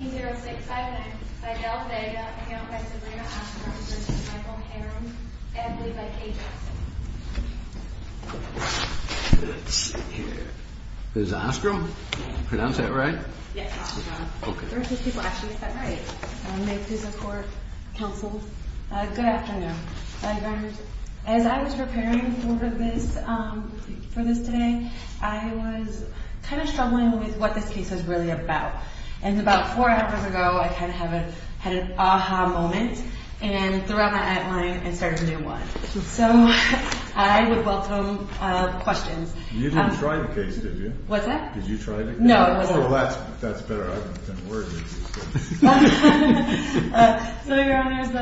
506-59 by Del Vega, and now by Sabrina Ostrom, assisted by Michael Harroun, and lead by Kay Johnson. Let's see here. This is Ostrom? Yeah. Pronounce that right? Yes, Ostrom. Okay. First, let's see if I actually said it right. May it please the Court, Counsel. Good afternoon. Good afternoon. As I was preparing for this, for this today, I was kind of struggling with what this case is really about. And about four hours ago, I kind of had an ah-ha moment, and threw out my outline and started a new one. So I would welcome questions. You didn't try the case, did you? What's that? Did you try the case? No, I wasn't. Well, that's better argument than a word is. So, Your Honors, my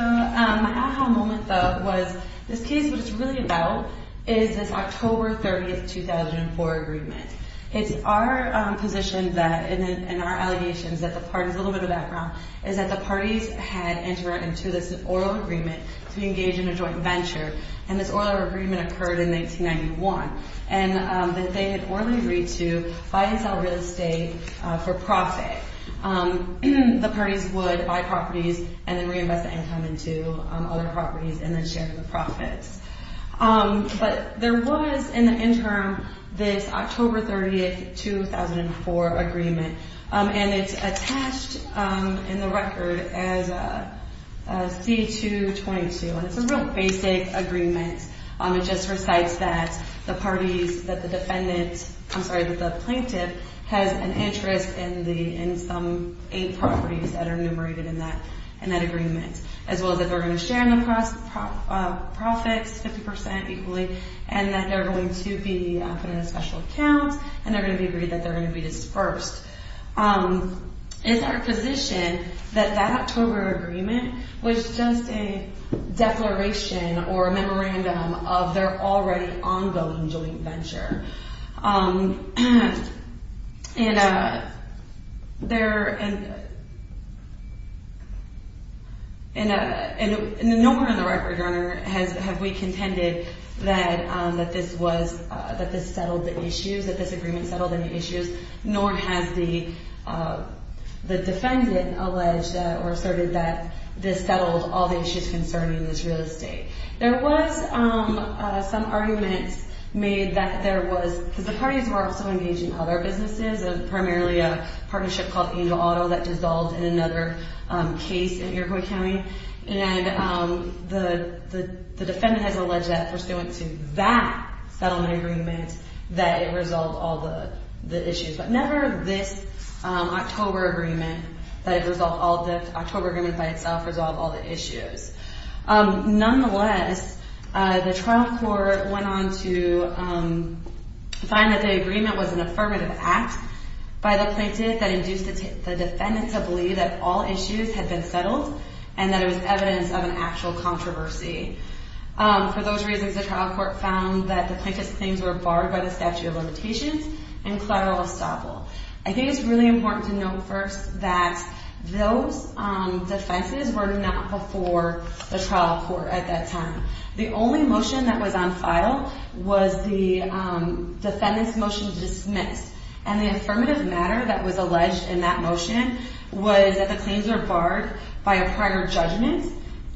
ah-ha moment, though, was this case, what it's really about, is this October 30, 2004, agreement. It's our position that in our allegations that the parties, a little bit of background, is that the parties had entered into this oral agreement to engage in a joint venture. And this oral agreement occurred in 1991. And they had orally agreed to buy and sell real estate for profit. The parties would buy properties and then reinvest the income into other properties and then share the profits. But there was, in the interim, this October 30, 2004, agreement. And it's attached in the record as C-222. And it's a real basic agreement. It just recites that the parties, that the defendant, I'm sorry, that the plaintiff has an interest in some eight properties that are enumerated in that agreement, as well as that they're going to share in the profits 50% equally, and that they're going to be up in a special account, and they're going to be agreed that they're going to be dispersed. It's our position that that October agreement was just a declaration or a memorandum of their already ongoing joint venture. And there, and nowhere in the record, Your Honor, have we contended that this was, that this settled the issues, that this agreement settled any issues, nor has the defendant alleged or asserted that this settled all the issues concerning this real estate. There was some arguments made that there was, because the parties were also engaged in other businesses, primarily a partnership called Angel Auto that dissolved in another case in Iroquois County. And the defendant has alleged that, pursuant to that settlement agreement, that it resolved all the issues. But never this October agreement, that it resolved all the, the October agreement by itself resolved all the issues. Nonetheless, the trial court went on to find that the agreement was an affirmative act by the plaintiff that induced the defendant to believe that all issues had been settled, and that it was evidence of an actual controversy. For those reasons, the trial court found that the plaintiff's claims were barred by the statute of limitations and collateral estoppel. I think it's really important to note first that those defenses were not before the trial court at that time. The only motion that was on file was the defendant's motion to dismiss. And the affirmative matter that was alleged in that motion was that the claims were barred by a prior judgment,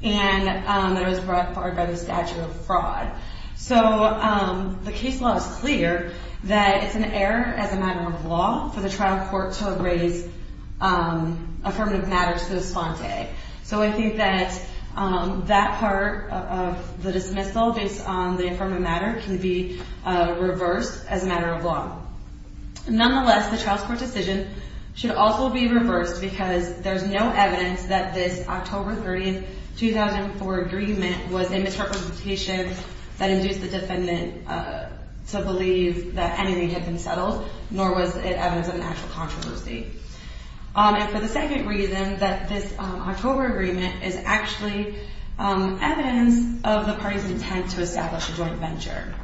and that it was barred by the statute of fraud. So the case law is clear that it's an error as a matter of law for the trial court to raise affirmative matters to the sponte. So I think that that part of the dismissal based on the affirmative matter can be reversed as a matter of law. Nonetheless, the trial court decision should also be reversed because there's no evidence that this October 30, 2004 agreement was a misrepresentation that induced the defendant to believe that anything had been settled, nor was it evidence of an actual controversy. And for the second reason, that this October agreement is actually evidence of the party's intent to establish a joint venture.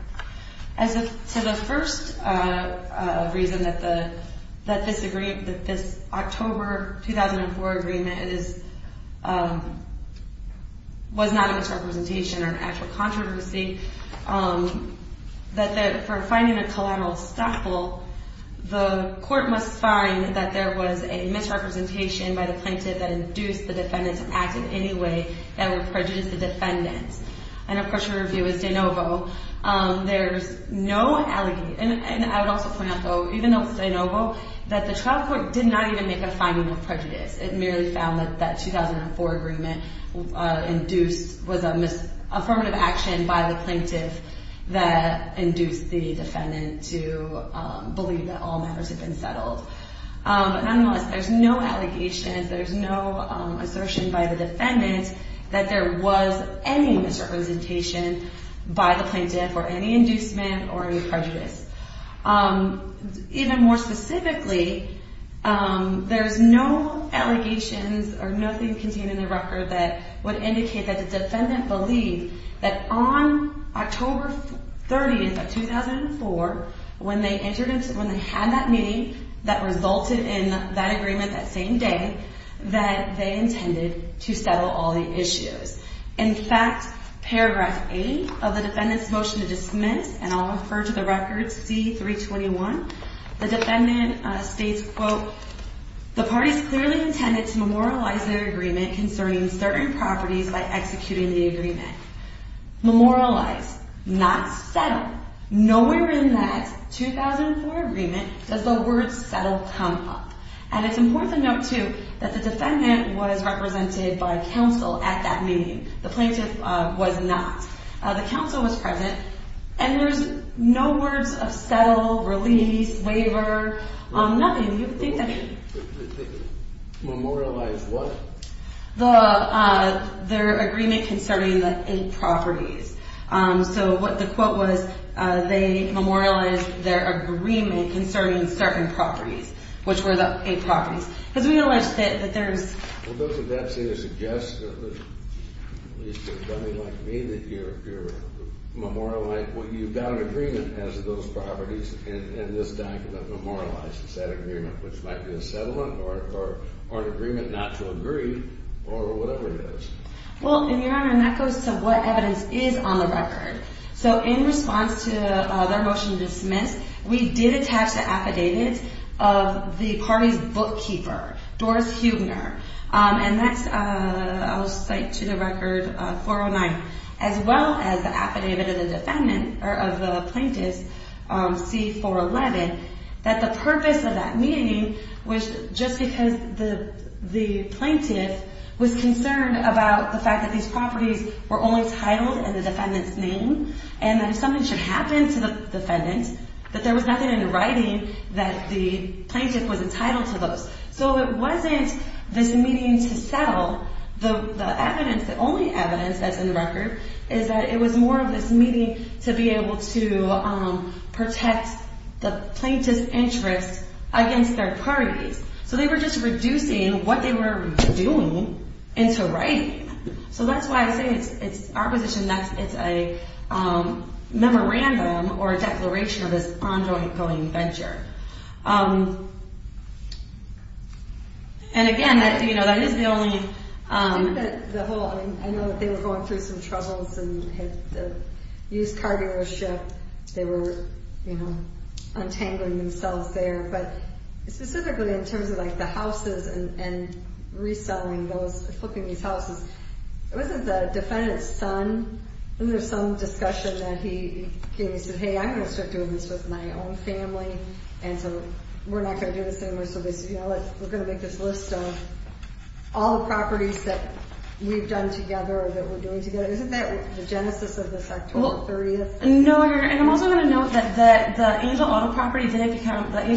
As to the first reason that this October 2004 agreement was not a misrepresentation or an actual controversy, that for finding a collateral estoppel, the court must find that there was a misrepresentation by the plaintiff that induced the defendant to act in any way that would prejudice the defendant. And of course, your review is de novo. There's no allegation, and I would also point out, though, even though it's de novo, that the trial court did not even make a finding of prejudice. It merely found that that 2004 agreement induced was an affirmative action by the plaintiff that induced the defendant to believe that all matters had been settled. Nonetheless, there's no allegations, there's no assertion by the defendant that there was any misrepresentation by the plaintiff or any inducement or any prejudice. Even more specifically, there's no allegations or nothing contained in the record that would indicate that the defendant believed that on October 30th of 2004, when they had that meeting that resulted in that agreement that same day, that they intended to settle all the issues. In fact, paragraph 8 of the defendant's motion to dismiss, and I'll refer to the record, C-321, the defendant states, quote, the parties clearly intended to memorialize their agreement concerning certain properties by executing the agreement. Memorialize, not settle. Nowhere in that 2004 agreement does the word settle come up. And it's important to note, too, that the defendant was represented by counsel at that meeting. The plaintiff was not. The counsel was present, and there's no words of settle, release, waiver, nothing. Memorialize what? Their agreement concerning the eight properties. So what the quote was, they memorialized their agreement concerning certain properties, which were the eight properties. Because we allege that there's... Well, doesn't that seem to suggest, at least to somebody like me, that you've got an agreement as to those properties, and this document memorializes that agreement, which might be a settlement or an agreement not to agree, or whatever it is. Well, Your Honor, and that goes to what evidence is on the record. So in response to their motion to dismiss, we did attach the affidavits of the party's bookkeeper, Doris Huebner, and that's, I'll cite to the record, 409, as well as the affidavit of the defendant, or of the plaintiff's, C-411, that the purpose of that meeting was just because the plaintiff was concerned about the fact that these properties were only titled in the defendant's name, and that if something should happen to the defendant, that there was nothing in the writing that the plaintiff was entitled to those. So it wasn't this meeting to settle. The evidence, the only evidence that's in the record, is that it was more of this meeting to be able to protect the plaintiff's interest against their parties. So they were just reducing what they were doing into writing. So that's why I say it's our position that it's a memorandum or a declaration of this ongoing venture. And again, that is the only... I know that they were going through some troubles and had to use car dealership. They were, you know, untangling themselves there. But specifically in terms of, like, the houses and reselling those, flipping these houses, wasn't the defendant's son, wasn't there some discussion that he said, hey, I'm going to start doing this with my own family, and so we're not going to do this anymore. So they said, you know what, we're going to make this list of all the properties that we've done together or that we're doing together. Isn't that the genesis of this October 30th thing? No, and I'm also going to note that the Angel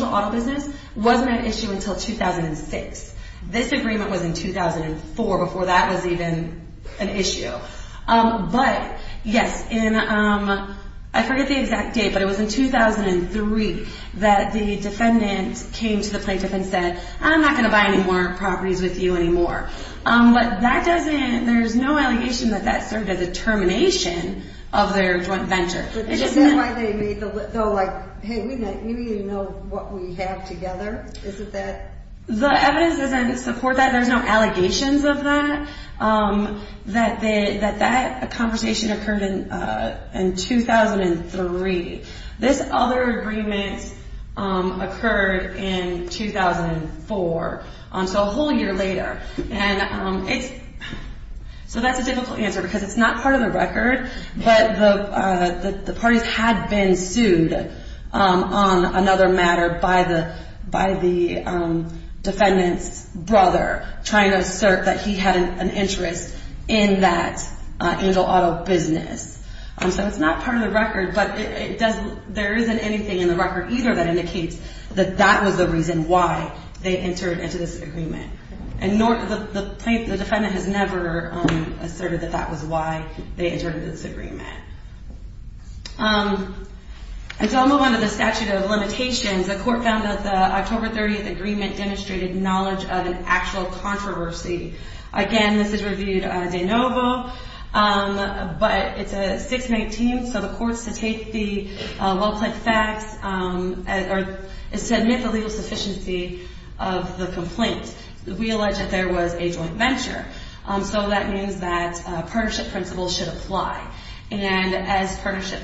Auto business wasn't an issue until 2006. This agreement was in 2004, before that was even an issue. But yes, I forget the exact date, but it was in 2003 that the defendant came to the plaintiff and said, I'm not going to buy any more properties with you anymore. But that doesn't, there's no allegation that that served as a termination of their joint venture. But isn't that why they made the list, though, like, hey, we need to know what we have together. Isn't that? The evidence doesn't support that. There's no allegations of that. That conversation occurred in 2003. This other agreement occurred in 2004, so a whole year later. And it's, so that's a difficult answer because it's not part of the record, but the parties had been sued on another matter by the defendant's brother, trying to assert that he had an interest in that Angel Auto business. So it's not part of the record, but it doesn't, there isn't anything in the record either that indicates that that was the reason why they entered into this agreement. And nor, the plaintiff, the defendant has never asserted that that was why they entered into this agreement. And so I'll move on to the statute of limitations. The court found that the October 30th agreement demonstrated knowledge of an actual controversy. Again, this is reviewed de novo, but it's a 619, so the court's to take the well-planned facts, or is to admit the legal sufficiency of the complaint. We allege that there was a joint venture, so that means that partnership principles should apply. And as partnership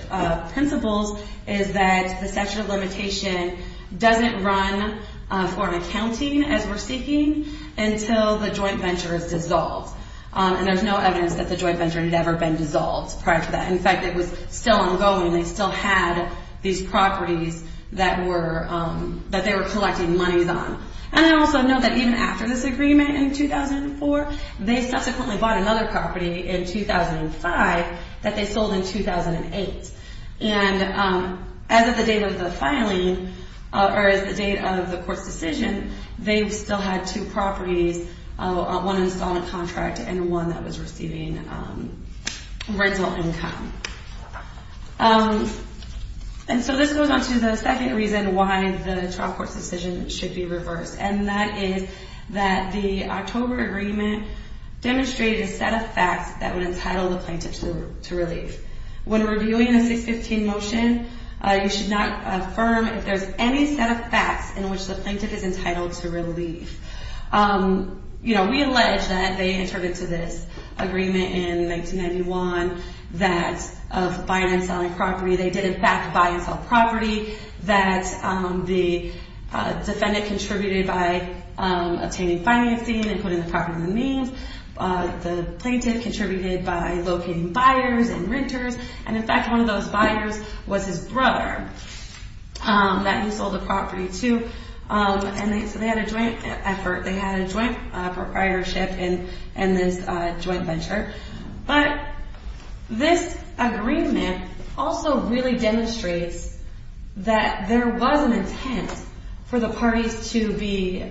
principles is that the statute of limitation doesn't run for an accounting as we're seeking until the joint venture is dissolved. And there's no evidence that the joint venture had ever been dissolved prior to that. In fact, it was still ongoing, they still had these properties that they were collecting monies on. And I also note that even after this agreement in 2004, they subsequently bought another property in 2005 that they sold in 2008. And as of the date of the filing, or as the date of the court's decision, they still had two properties, one installment contract and one that was receiving rental income. And so this goes on to the second reason why the trial court's decision should be reversed, and that is that the October agreement demonstrated a set of facts that would entitle the plaintiff to relief. When reviewing a 615 motion, you should not affirm if there's any set of facts in which the plaintiff is entitled to relief. We allege that they entered into this agreement in 1991 that of buying and selling property, they did in fact buy and sell property, that the defendant contributed by obtaining financing and putting the property on the means, the plaintiff contributed by locating buyers and renters, and in fact one of those buyers was his brother that he sold the property to, and so they had a joint effort, they had a joint proprietorship in this joint venture. But this agreement also really demonstrates that there was an intent for the parties to be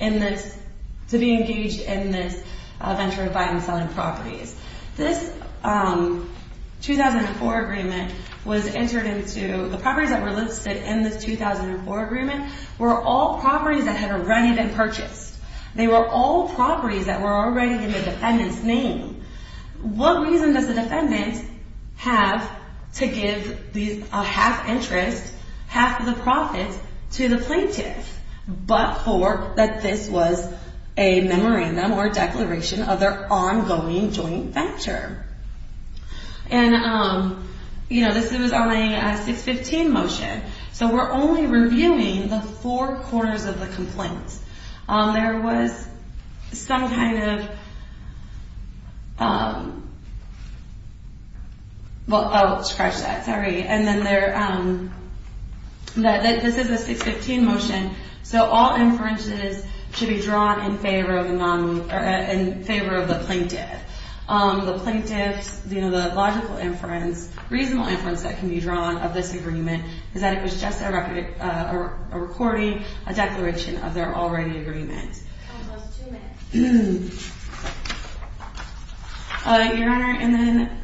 engaged in this venture of buying and selling properties. This 2004 agreement was entered into, the properties that were listed in this 2004 agreement were all properties that had already been purchased. They were all properties that were already in the defendant's name. What reason does the defendant have to give a half interest, half of the profits, to the plaintiff but for that this was a memorandum or declaration of their ongoing joint venture? This was only a 615 motion, so we're only reviewing the four quarters of the complaint. There was some kind of... I'll scratch that, sorry. This is a 615 motion, so all inferences should be drawn in favor of the plaintiff. The plaintiff's logical inference, reasonable inference that can be drawn of this agreement is that it was just a recording, a declaration of their already agreement. Your Honor, and then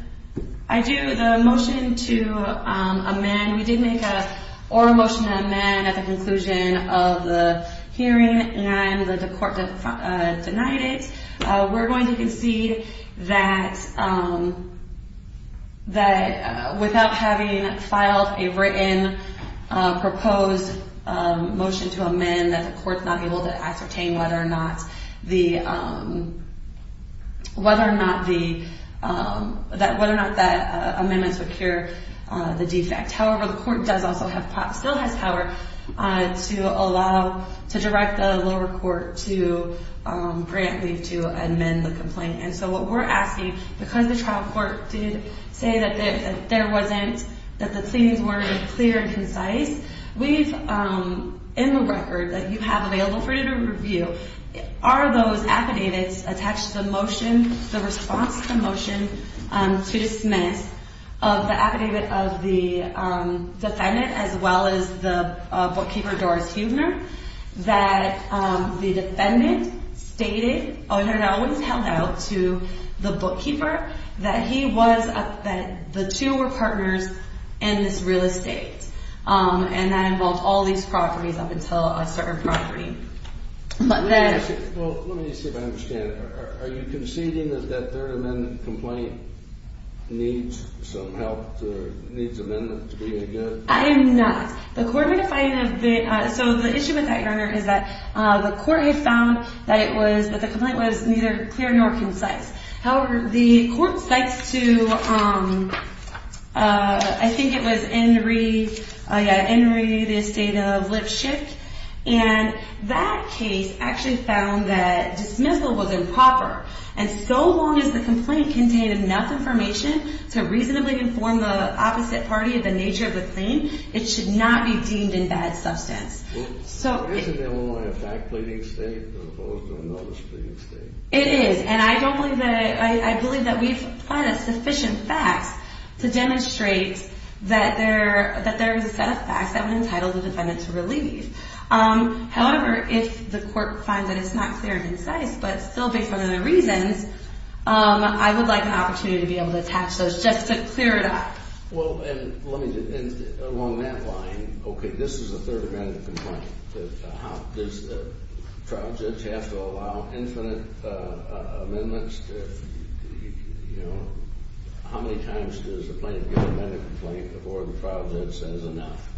I do the motion to amend. We did make an oral motion to amend at the conclusion of the hearing, and the court denied it. We're going to concede that without having filed a written proposed motion to amend, that the court's not able to ascertain whether or not that amendment would cure the defect. However, the court does also have power, to allow, to direct the lower court to grant leave to amend the complaint. And so what we're asking, because the trial court did say that there wasn't, that the claims weren't clear and concise, in the record that you have available for you to review, are those affidavits attached to the motion, the response to the motion, to dismiss of the affidavit of the defendant as well as the bookkeeper, Doris Huebner, that the defendant stated, or no, it was held out to the bookkeeper, that he was, that the two were partners in this real estate. And that involved all these properties up until a certain property. But then... Well, let me see if I understand. Are you conceding that that third amendment complaint needs some help, needs amendment to be a good? I am not. The court would find that the, so the issue with that, Your Honor, is that the court had found that it was, that the complaint was neither clear nor concise. However, the court cites to, I think it was Enri, yeah, Enri, the estate of Lipschick, and that case actually found that dismissal was improper. And so long as the complaint contained enough information to reasonably inform the opposite party of the nature of the claim, it should not be deemed in bad substance. Isn't Illinois a fact-cleaning state as opposed to a notice-cleaning state? It is. And I don't believe that, I believe that we've applied sufficient facts to demonstrate that there is a set of facts that would entitle the defendant to relieve. However, if the court finds that it's not clear and concise, but still based on the reasons, I would like an opportunity to be able to attach those just to clear it up. Well, and let me just, along that line, okay, this is a third-amendment complaint. Does the trial judge have to allow infinite amendments? How many times does the plaintiff get a medical complaint before the trial judge says enough?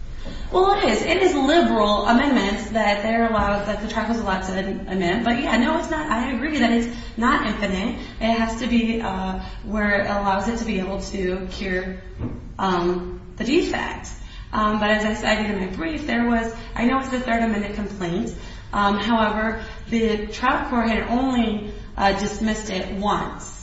Well, it is. It is liberal amendments that there allows, that the trial judge is allowed to amend. But yeah, no, it's not, I agree that it's not infinite. It has to be where it allows it to be able to cure the defect. But as I said in my brief, there was, I know it's a third-amendment complaint. However, the trial court had only dismissed it once.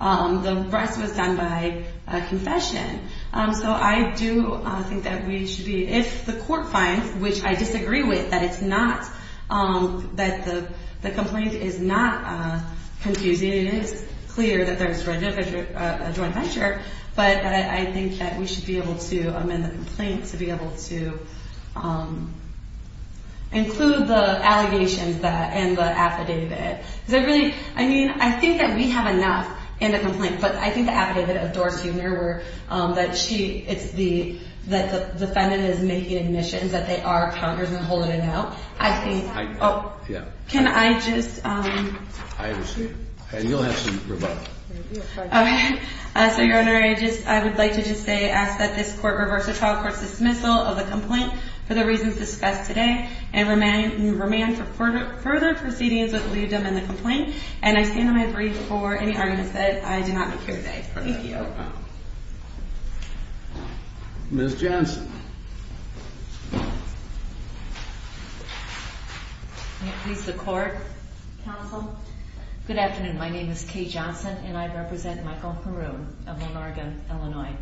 The rest was done by confession. So I do think that we should be, if the court finds, which I disagree with, that it's not, that the complaint is not confusing and it is clear that there's a joint venture, but I think that we should be able to amend the complaint to be able to include the allegations and the affidavit. Because I really, I mean, I think that we have enough in the complaint, but I think the affidavit of Dorsey Merwer, that she, it's the, that the defendant is making admissions, that they are counters and holding it out. I think, oh, can I just? I understand. And you'll have some rebuttal. Okay. So, Your Honor, I just, I would like to just say, ask that this court reverse the trial court's dismissal of the complaint for the reasons discussed today and remand for further proceedings that lead them in the complaint. And I stand on my brief for any arguments that I do not make here today. Thank you. Ms. Johnson. May it please the court, counsel. Good afternoon. My name is Kay Johnson, and I represent Michael Heroun of Monarga, Illinois.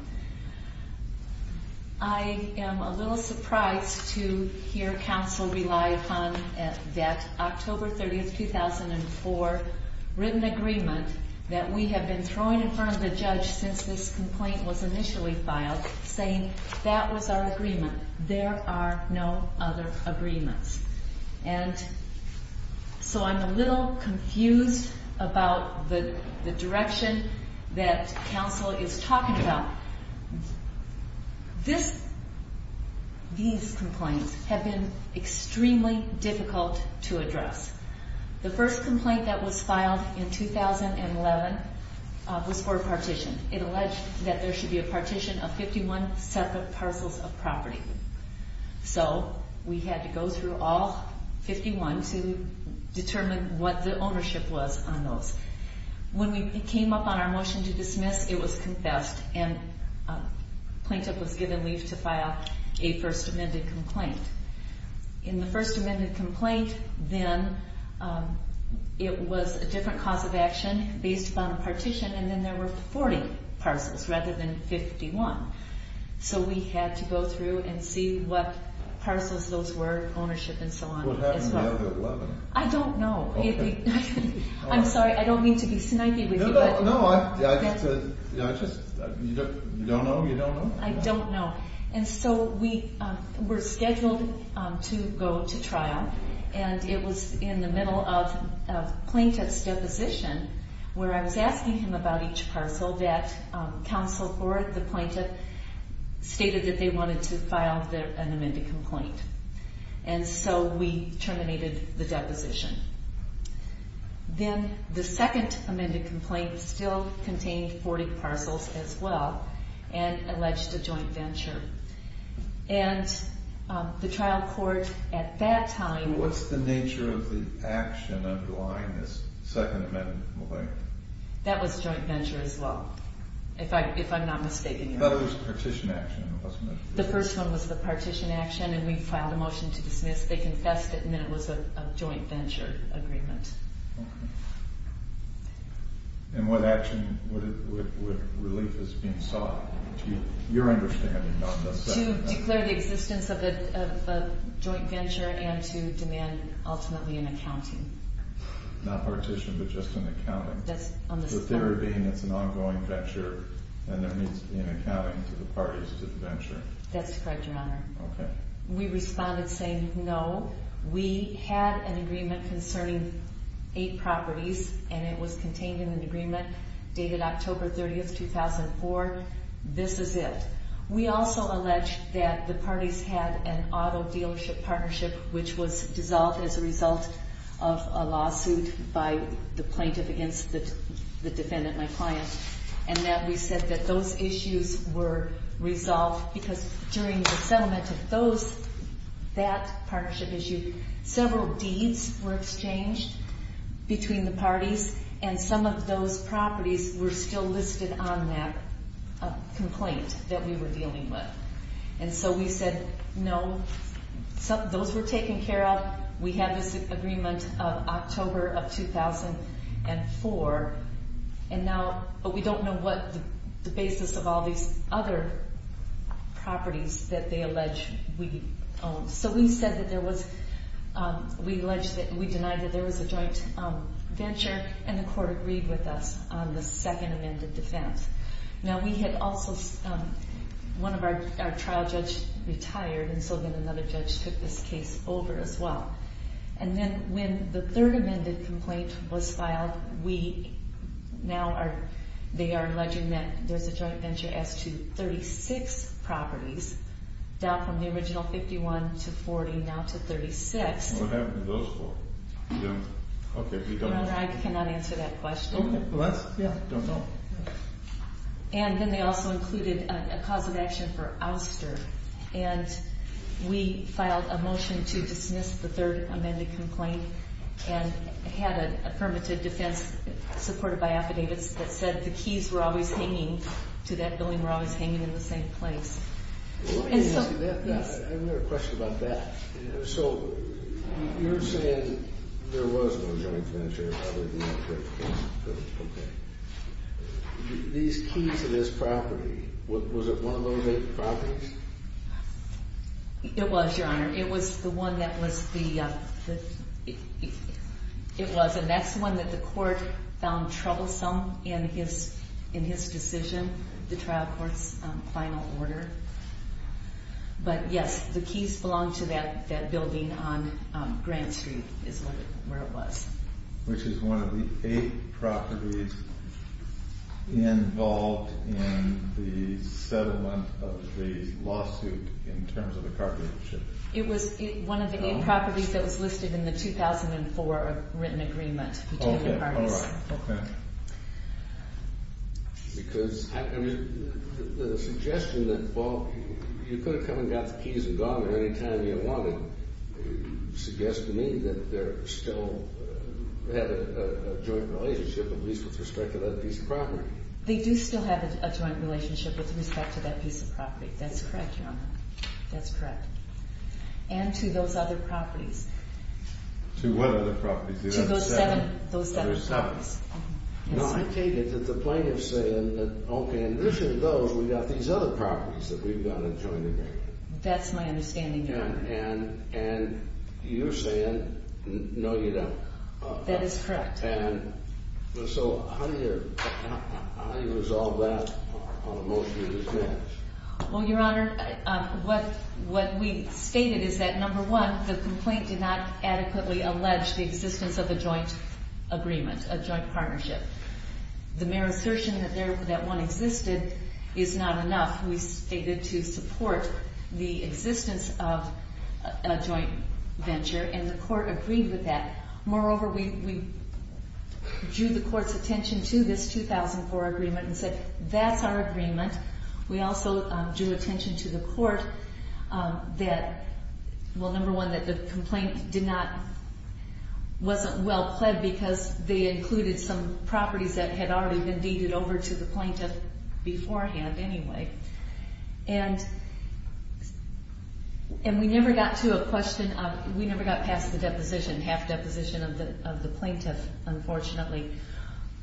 I am a little surprised to hear counsel rely upon that October 30th, 2004, written agreement that we have been throwing in front of the judge since this complaint was initially filed, saying that was our agreement. There are no other agreements. And so I'm a little confused about the direction that counsel is talking about. This, these complaints have been extremely difficult to address. The first complaint that was filed in 2011 was for a partition. It alleged that there should be a partition of 51 separate parcels of property. So we had to go through all 51 to determine what the ownership was on those. When we came up on our motion to dismiss, it was confessed, and a plaintiff was given leave to file a first amended complaint. In the first amended complaint, then, and then there were 40 parcels rather than 51. So we had to go through and see what parcels those were, ownership, and so on. What happened in 2011? I don't know. I'm sorry. I don't mean to be snidey with you. No, no. I just, you don't know? You don't know? I don't know. And so we were scheduled to go to trial, and it was in the middle of a plaintiff's deposition where I was asking him about each parcel that counsel for the plaintiff stated that they wanted to file an amended complaint. And so we terminated the deposition. Then the second amended complaint still contained 40 parcels as well and alleged a joint venture. And the trial court at that time. And what's the nature of the action underlying this second amended complaint? That was joint venture as well, if I'm not mistaken. But it was the partition action, wasn't it? The first one was the partition action, and we filed a motion to dismiss. They confessed it, and then it was a joint venture agreement. Okay. And what action, what relief is being sought, to your understanding, on the second amendment? To declare the existence of a joint venture and to demand ultimately an accounting. Not partition, but just an accounting. That's on the second. The theory being it's an ongoing venture and there needs to be an accounting to the parties to the venture. That's correct, Your Honor. Okay. We responded saying no. We had an agreement concerning eight properties, and it was contained in an agreement dated October 30, 2004. This is it. We also alleged that the parties had an auto dealership partnership which was dissolved as a result of a lawsuit by the plaintiff against the defendant, my client, and that we said that those issues were resolved because during the settlement of that partnership issue, and some of those properties were still listed on that complaint that we were dealing with. And so we said no. Those were taken care of. We had this agreement of October of 2004, but we don't know what the basis of all these other properties that they allege we own. So we said that there was, we denied that there was a joint venture, and the court agreed with us on the second amended defense. Now we had also, one of our trial judges retired, and so then another judge took this case over as well. And then when the third amended complaint was filed, we now are, they are alleging that there's a joint venture as to 36 properties, down from the original 51 to 40, now to 36. What happened to those four? Okay. Your Honor, I cannot answer that question. What? Yeah. I don't know. And then they also included a cause of action for ouster. And we filed a motion to dismiss the third amended complaint and had a affirmative defense supported by affidavits that said the keys were always hanging, to that building were always hanging in the same place. Let me ask you that. I have another question about that. So you're saying there was no joint venture. Okay. These keys to this property, was it one of those eight properties? It was, Your Honor. It was the one that was the, it was. And that's the one that the court found troublesome in his decision, the trial court's final order. But, yes, the keys belonged to that building on Grant Street is where it was. Which is one of the eight properties involved in the settlement of the lawsuit in terms of the car dealership. It was one of the eight properties that was listed in the 2004 written agreement. Okay. All right. Okay. Because the suggestion that, well, you could have come and got the keys and gone at any time you wanted suggests to me that they still have a joint relationship, at least with respect to that piece of property. They do still have a joint relationship with respect to that piece of property. That's correct, Your Honor. That's correct. And to those other properties. To what other properties? To those seven properties. No, I take it that the plaintiff's saying that, okay, in addition to those, we've got these other properties that we've got a joint agreement. That's my understanding, Your Honor. And you're saying, no, you don't. That is correct. And so how do you resolve that on a motion to dismiss? Well, Your Honor, what we stated is that, number one, the complaint did not adequately allege the existence of a joint agreement, a joint partnership. The mere assertion that one existed is not enough. We stated to support the existence of a joint venture, and the court agreed with that. Moreover, we drew the court's attention to this 2004 agreement and said that's our agreement. We also drew attention to the court that, well, number one, that the complaint did not, wasn't well pled because they included some properties that had already been deeded over to the plaintiff beforehand anyway. And we never got to a question of, we never got past the deposition, half deposition of the plaintiff, unfortunately.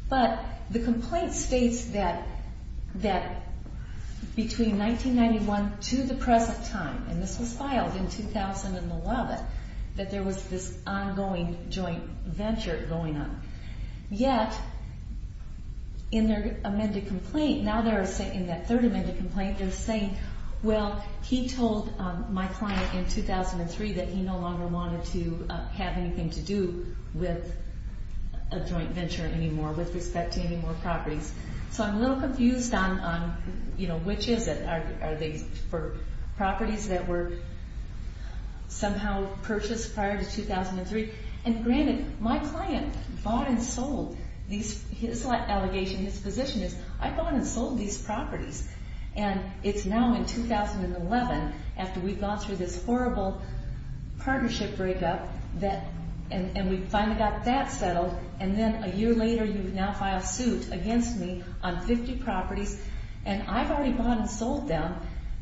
But the complaint states that between 1991 to the present time, and this was filed in 2011, that there was this ongoing joint venture going on. Yet in their amended complaint, in that third amended complaint, they're saying, well, he told my client in 2003 that he no longer wanted to have anything to do with a joint venture anymore, with respect to any more properties. So I'm a little confused on, you know, which is it? Are they for properties that were somehow purchased prior to 2003? And granted, my client bought and sold these, his allegation, his position is, I bought and sold these properties. And it's now in 2011, after we've gone through this horrible partnership breakup, and we finally got that settled, and then a year later you've now filed suit against me on 50 properties, and I've already bought and sold them,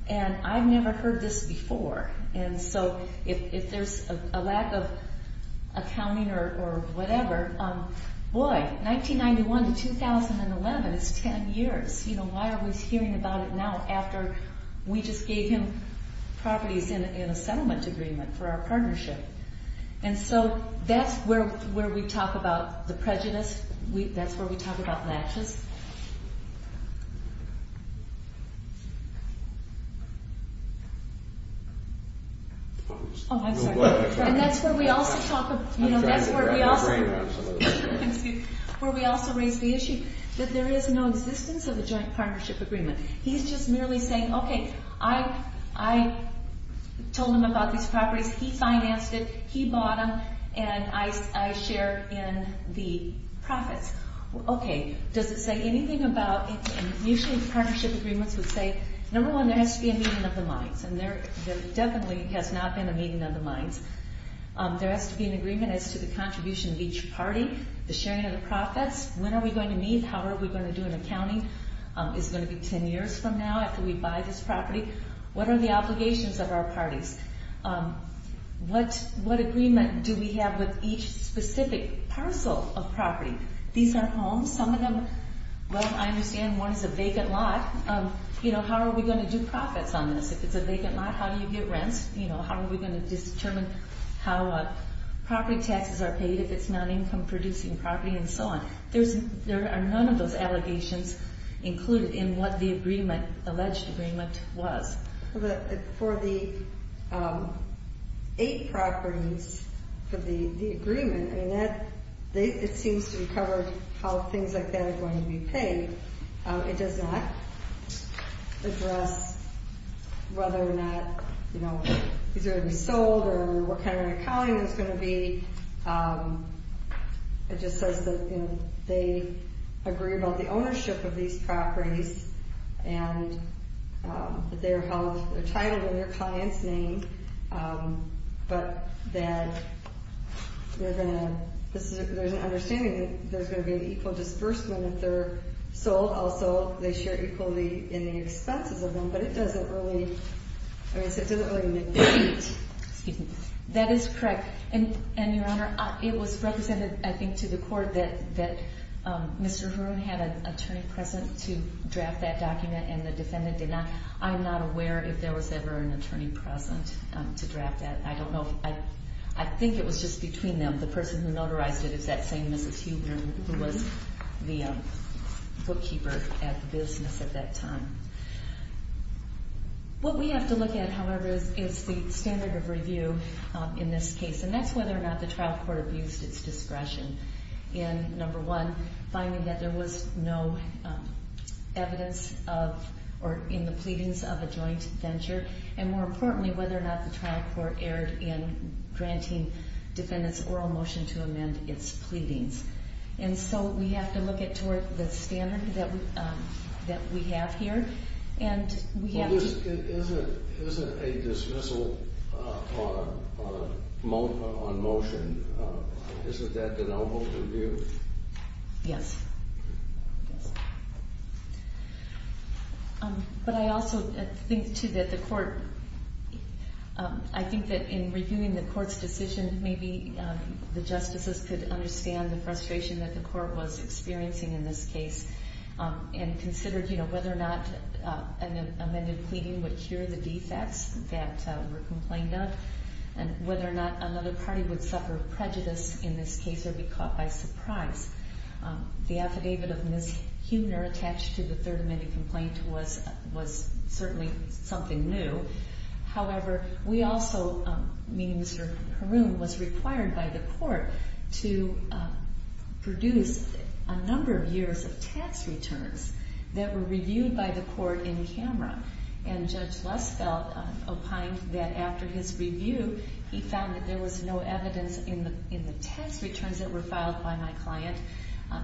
and I've never heard this before. And so if there's a lack of accounting or whatever, boy, 1991 to 2011 is 10 years. You know, why are we hearing about it now after we just gave him properties in a settlement agreement for our partnership? And so that's where we talk about the prejudice. That's where we talk about matches. Oh, I'm sorry. And that's where we also talk about, you know, that's where we also raise the issue that there is no existence of a joint partnership agreement. He's just merely saying, okay, I told him about these properties, he financed it, he bought them, and I share in the profits. Okay, does it say anything about, and usually partnership agreements would say, number one, there has to be a meeting of the minds, and there definitely has not been a meeting of the minds. There has to be an agreement as to the contribution of each party, the sharing of the profits. When are we going to meet? How are we going to do an accounting? Is it going to be 10 years from now after we buy this property? What are the obligations of our parties? What agreement do we have with each specific parcel of property? These are homes. Some of them, well, I understand one is a vacant lot. You know, how are we going to do profits on this? If it's a vacant lot, how do you get rents? You know, how are we going to determine how property taxes are paid if it's non-income producing property and so on? There are none of those allegations included in what the agreement, alleged agreement, was. For the eight properties for the agreement, I mean, it seems to cover how things like that are going to be paid. It does not address whether or not, you know, these are going to be sold or what kind of accounting there's going to be. It just says that, you know, they agree about the ownership of these properties and that they're titled in their client's name, but that there's an understanding that there's going to be an equal disbursement if they're sold. Also, they share equally in the expenses of them, but it doesn't really make sense. Excuse me. That is correct. And, Your Honor, it was represented, I think, to the court that Mr. Huron had an attorney present to draft that document and the defendant did not. I'm not aware if there was ever an attorney present to draft that. I don't know. I think it was just between them. The person who notarized it is that same Mrs. Huebner who was the bookkeeper at the business at that time. What we have to look at, however, is the standard of review in this case, and that's whether or not the trial court abused its discretion in, number one, finding that there was no evidence of or in the pleadings of a joint venture, and more importantly whether or not the trial court erred in granting defendants oral motion to amend its pleadings. And so we have to look at the standard that we have here and we have to... Well, isn't a dismissal on motion, isn't that the noble review? Yes. But I also think, too, that the court, I think that in reviewing the court's decision, maybe the justices could understand the frustration that the court was experiencing in this case and considered whether or not an amended pleading would cure the defects that were complained of and whether or not another party would suffer prejudice in this case or be caught by surprise. The affidavit of Mrs. Huebner attached to the third amended complaint was certainly something new. However, we also, meaning Mr. Haroun, was required by the court to produce a number of years of tax returns that were reviewed by the court in camera. And Judge Lesfeld opined that after his review, he found that there was no evidence in the tax returns that were filed by my client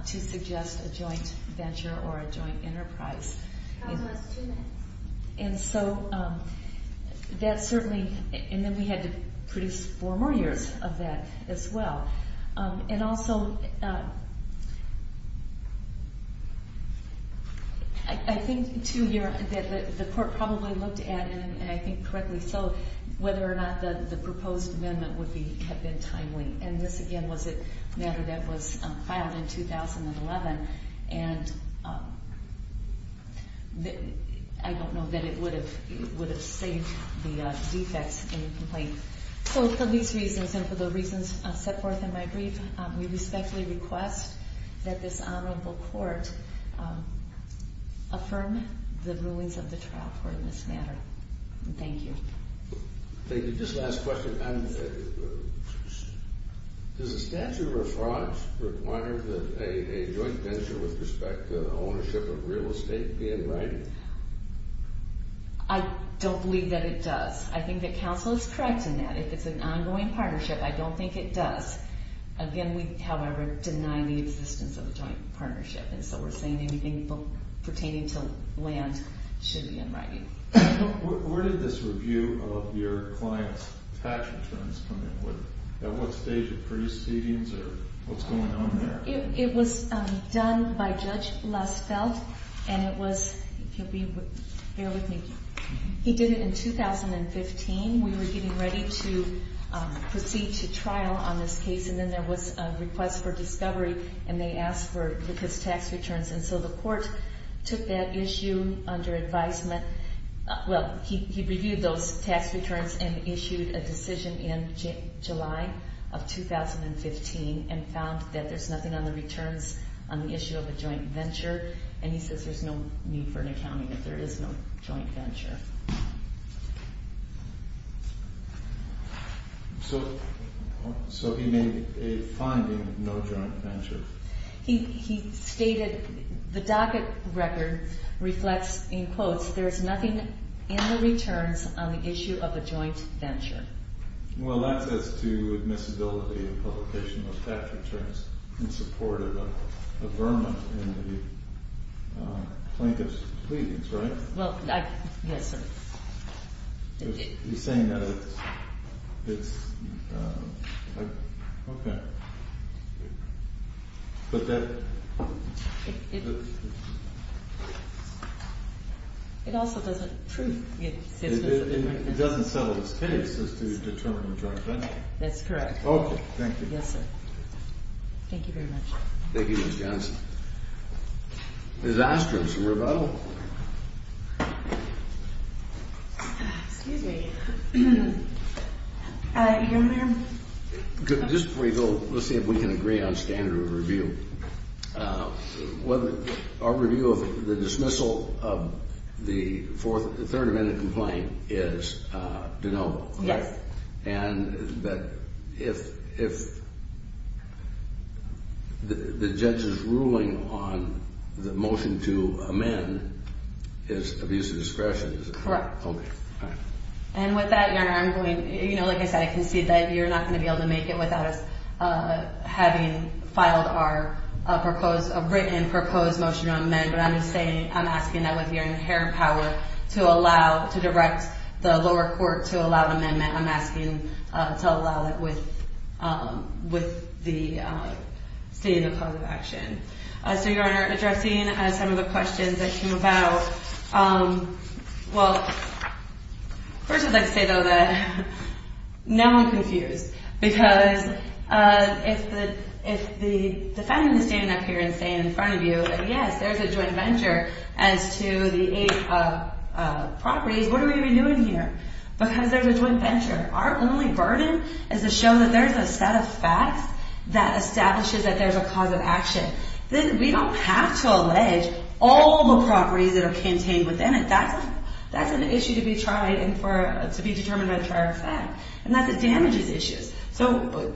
to suggest a joint venture or a joint enterprise. That was two minutes. And so that certainly, and then we had to produce four more years of that as well. And also, I think, too, that the court probably looked at, and I think correctly so, whether or not the proposed amendment would have been timely. And this, again, was a matter that was filed in 2011. And I don't know that it would have saved the defects in the complaint. So for these reasons and for the reasons set forth in my brief, we respectfully request that this honorable court affirm the rulings of the trial court in this matter. Thank you. Thank you. Just a last question. Does the statute of refrains require that a joint venture with respect to ownership of real estate be in writing? I don't believe that it does. I think that counsel is correct in that. If it's an ongoing partnership, I don't think it does. Again, we, however, deny the existence of a joint partnership. Where did this review of your client's tax returns come in? At what stage of proceedings or what's going on there? It was done by Judge Lessfeld, and it was, if you'll bear with me, he did it in 2015. We were getting ready to proceed to trial on this case, and then there was a request for discovery, and they asked for his tax returns. And so the court took that issue under advisement. Well, he reviewed those tax returns and issued a decision in July of 2015 and found that there's nothing on the returns on the issue of a joint venture, and he says there's no need for an accounting if there is no joint venture. So he made a finding, no joint venture. He stated the docket record reflects, in quotes, there's nothing in the returns on the issue of a joint venture. Well, that's as to admissibility of publication of tax returns in support of a vermin in the plaintiff's pleadings, right? Well, yes, sir. He's saying that it's... Okay. But that... It also doesn't prove the existence of a joint venture. It doesn't settle his case as to the term of a joint venture. That's correct. Okay, thank you. Yes, sir. Thank you very much. Thank you, Ms. Johnson. Disaster is a rebuttal. Excuse me. Your Honor? Just before you go, let's see if we can agree on standard of review. Our review of the dismissal of the Third Amendment complaint is deniable, right? Yes. And that if... the judge's ruling on the motion to amend is abuse of discretion, is it? Correct. Okay, fine. And with that, Your Honor, I'm going... Like I said, I concede that you're not going to be able to make it without us having filed our proposed... a written proposed motion to amend, but I'm just saying... I'm asking that with your inherent power to allow... to direct the lower court to allow the amendment. I'm asking to allow that with... with the... seeing the cause of action. So, Your Honor, addressing some of the questions that came about... Well... First, I'd like to say, though, that... now I'm confused. Because... if the... if the defendant is standing up here and saying in front of you, yes, there's a joint venture as to the eight properties, what are we even doing here? Because there's a joint venture. Our only burden is to show that there's a set of facts that establishes that there's a cause of action. We don't have to allege all the properties that are contained within it. That's an issue to be tried and for... to be determined by the charge of fact. And that damages issues. So...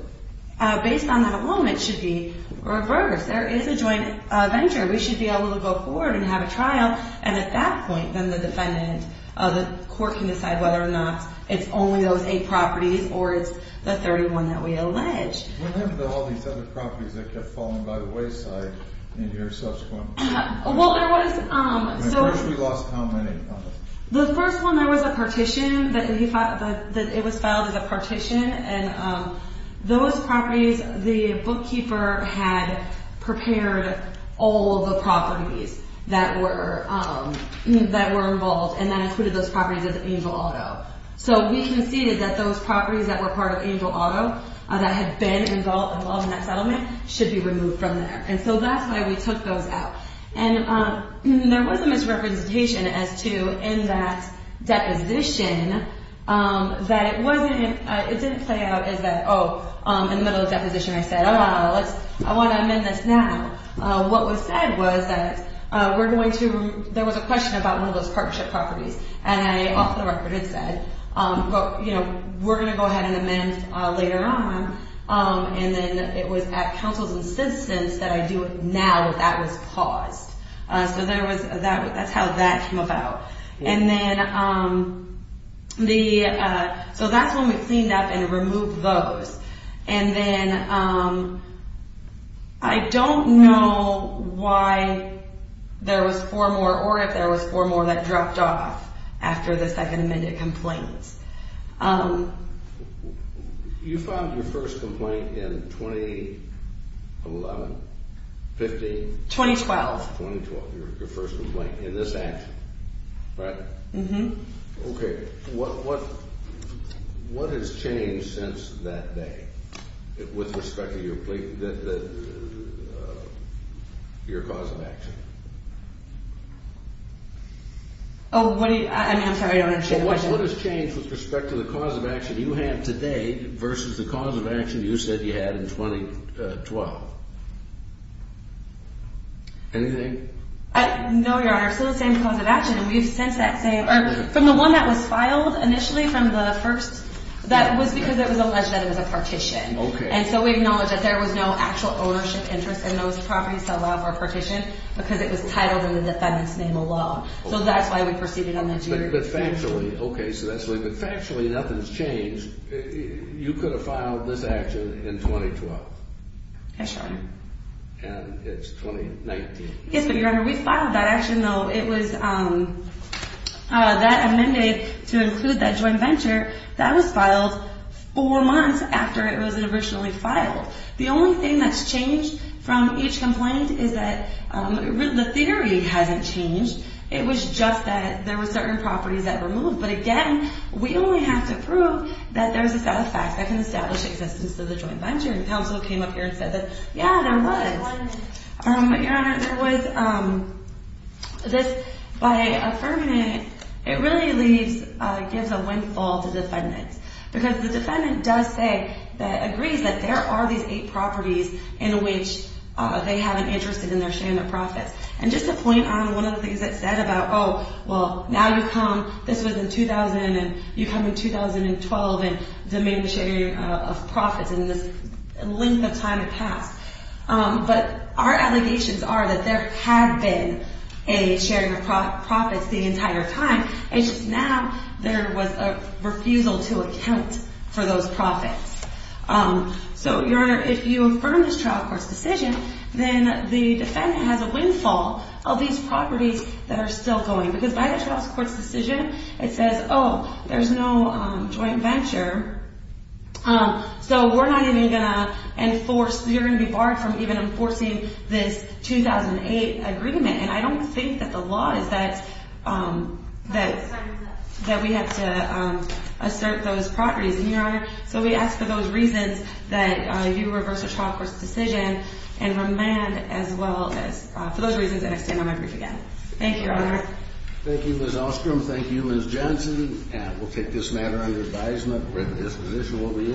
based on that alone, it should be reversed. There is a joint venture. We should be able to go forward and have a trial. And at that point, then the defendant... the court can decide whether or not it's only those eight properties or it's the 31 that we allege. What happened to all these other properties that kept falling by the wayside in your subsequent... Well, there was... At first, we lost how many? The first one, there was a partition. It was filed as a partition. And those properties, the bookkeeper had prepared all the properties that were... that were involved and then included those properties as Angel Auto. So we conceded that those properties that were part of Angel Auto that had been involved in that settlement should be removed from there. And so that's why we took those out. And there was a misrepresentation as to in that deposition that it wasn't... It didn't play out as that, oh, in the middle of the deposition, I said, I want to amend this now. What was said was that we're going to... There was a question about one of those partnership properties. And I, off the record, had said, you know, we're going to go ahead and amend later on. And then it was at Councils and Citizens that I do it now that that was caused. So there was... That's how that came about. And then the... So that's when we cleaned up and removed those. And then I don't know why there was four more or if there was four more that dropped off after the second amended complaint. You filed your first complaint in 2011, 15? 2012. 2012, your first complaint in this action, right? Mm-hmm. Okay. What has changed since that day with respect to your cause of action? Oh, what do you... I'm sorry, I don't understand. What has changed with respect to the cause of action you have today versus the cause of action you said you had in 2012? Anything? No, Your Honor. It's the same cause of action. And we've since that same... From the one that was filed initially from the first... That was because it was alleged that it was a partition. Okay. And so we acknowledge that there was no actual ownership interest in those properties that allow for a partition because it was titled in the defendant's name alone. So that's why we proceeded on that year. But factually... Okay, so that's what... But factually, nothing's changed. You could have filed this action in 2012. Okay, sure. And it's 2019. Yes, but Your Honor, we filed that action, though. It was... That amended to include that joint venture. That was filed four months after it was originally filed. The only thing that's changed from each complaint is that the theory hasn't changed. It was just that there were certain properties that were moved. But again, we only have to prove that there's a set of facts that can establish the existence of the joint venture and counsel came up here and said that, yeah, there was. Your Honor, there was this... By affirming it, it really leaves... Gives a windfall to defendants because the defendant does say that... Agrees that there are these eight properties in which they have an interest in their share in their profits. And just to point out one of the things that's said about, oh, well, now you come... This was in 2000 and you come in 2012 and domain sharing of profits in this length of time had passed. But our allegations are that there had been a sharing of profits the entire time. It's just now there was a refusal to account for those profits. So, Your Honor, if you affirm this trial court's decision, then the defendant has a windfall of these properties that are still going because by the trial court's decision, it says, oh, there's no joint venture. So we're not even going to enforce... You're going to be barred from even enforcing this 2008 agreement. And I don't think that the law is that... That we have to assert those properties. And, Your Honor, so we ask for those reasons that you reverse the trial court's decision and remand as well as... For those reasons, the next time I'm going to brief again. Thank you, Your Honor. Thank you, Ms. Ostrom. Thank you, Ms. Johnson. And we'll take this matter under advisement.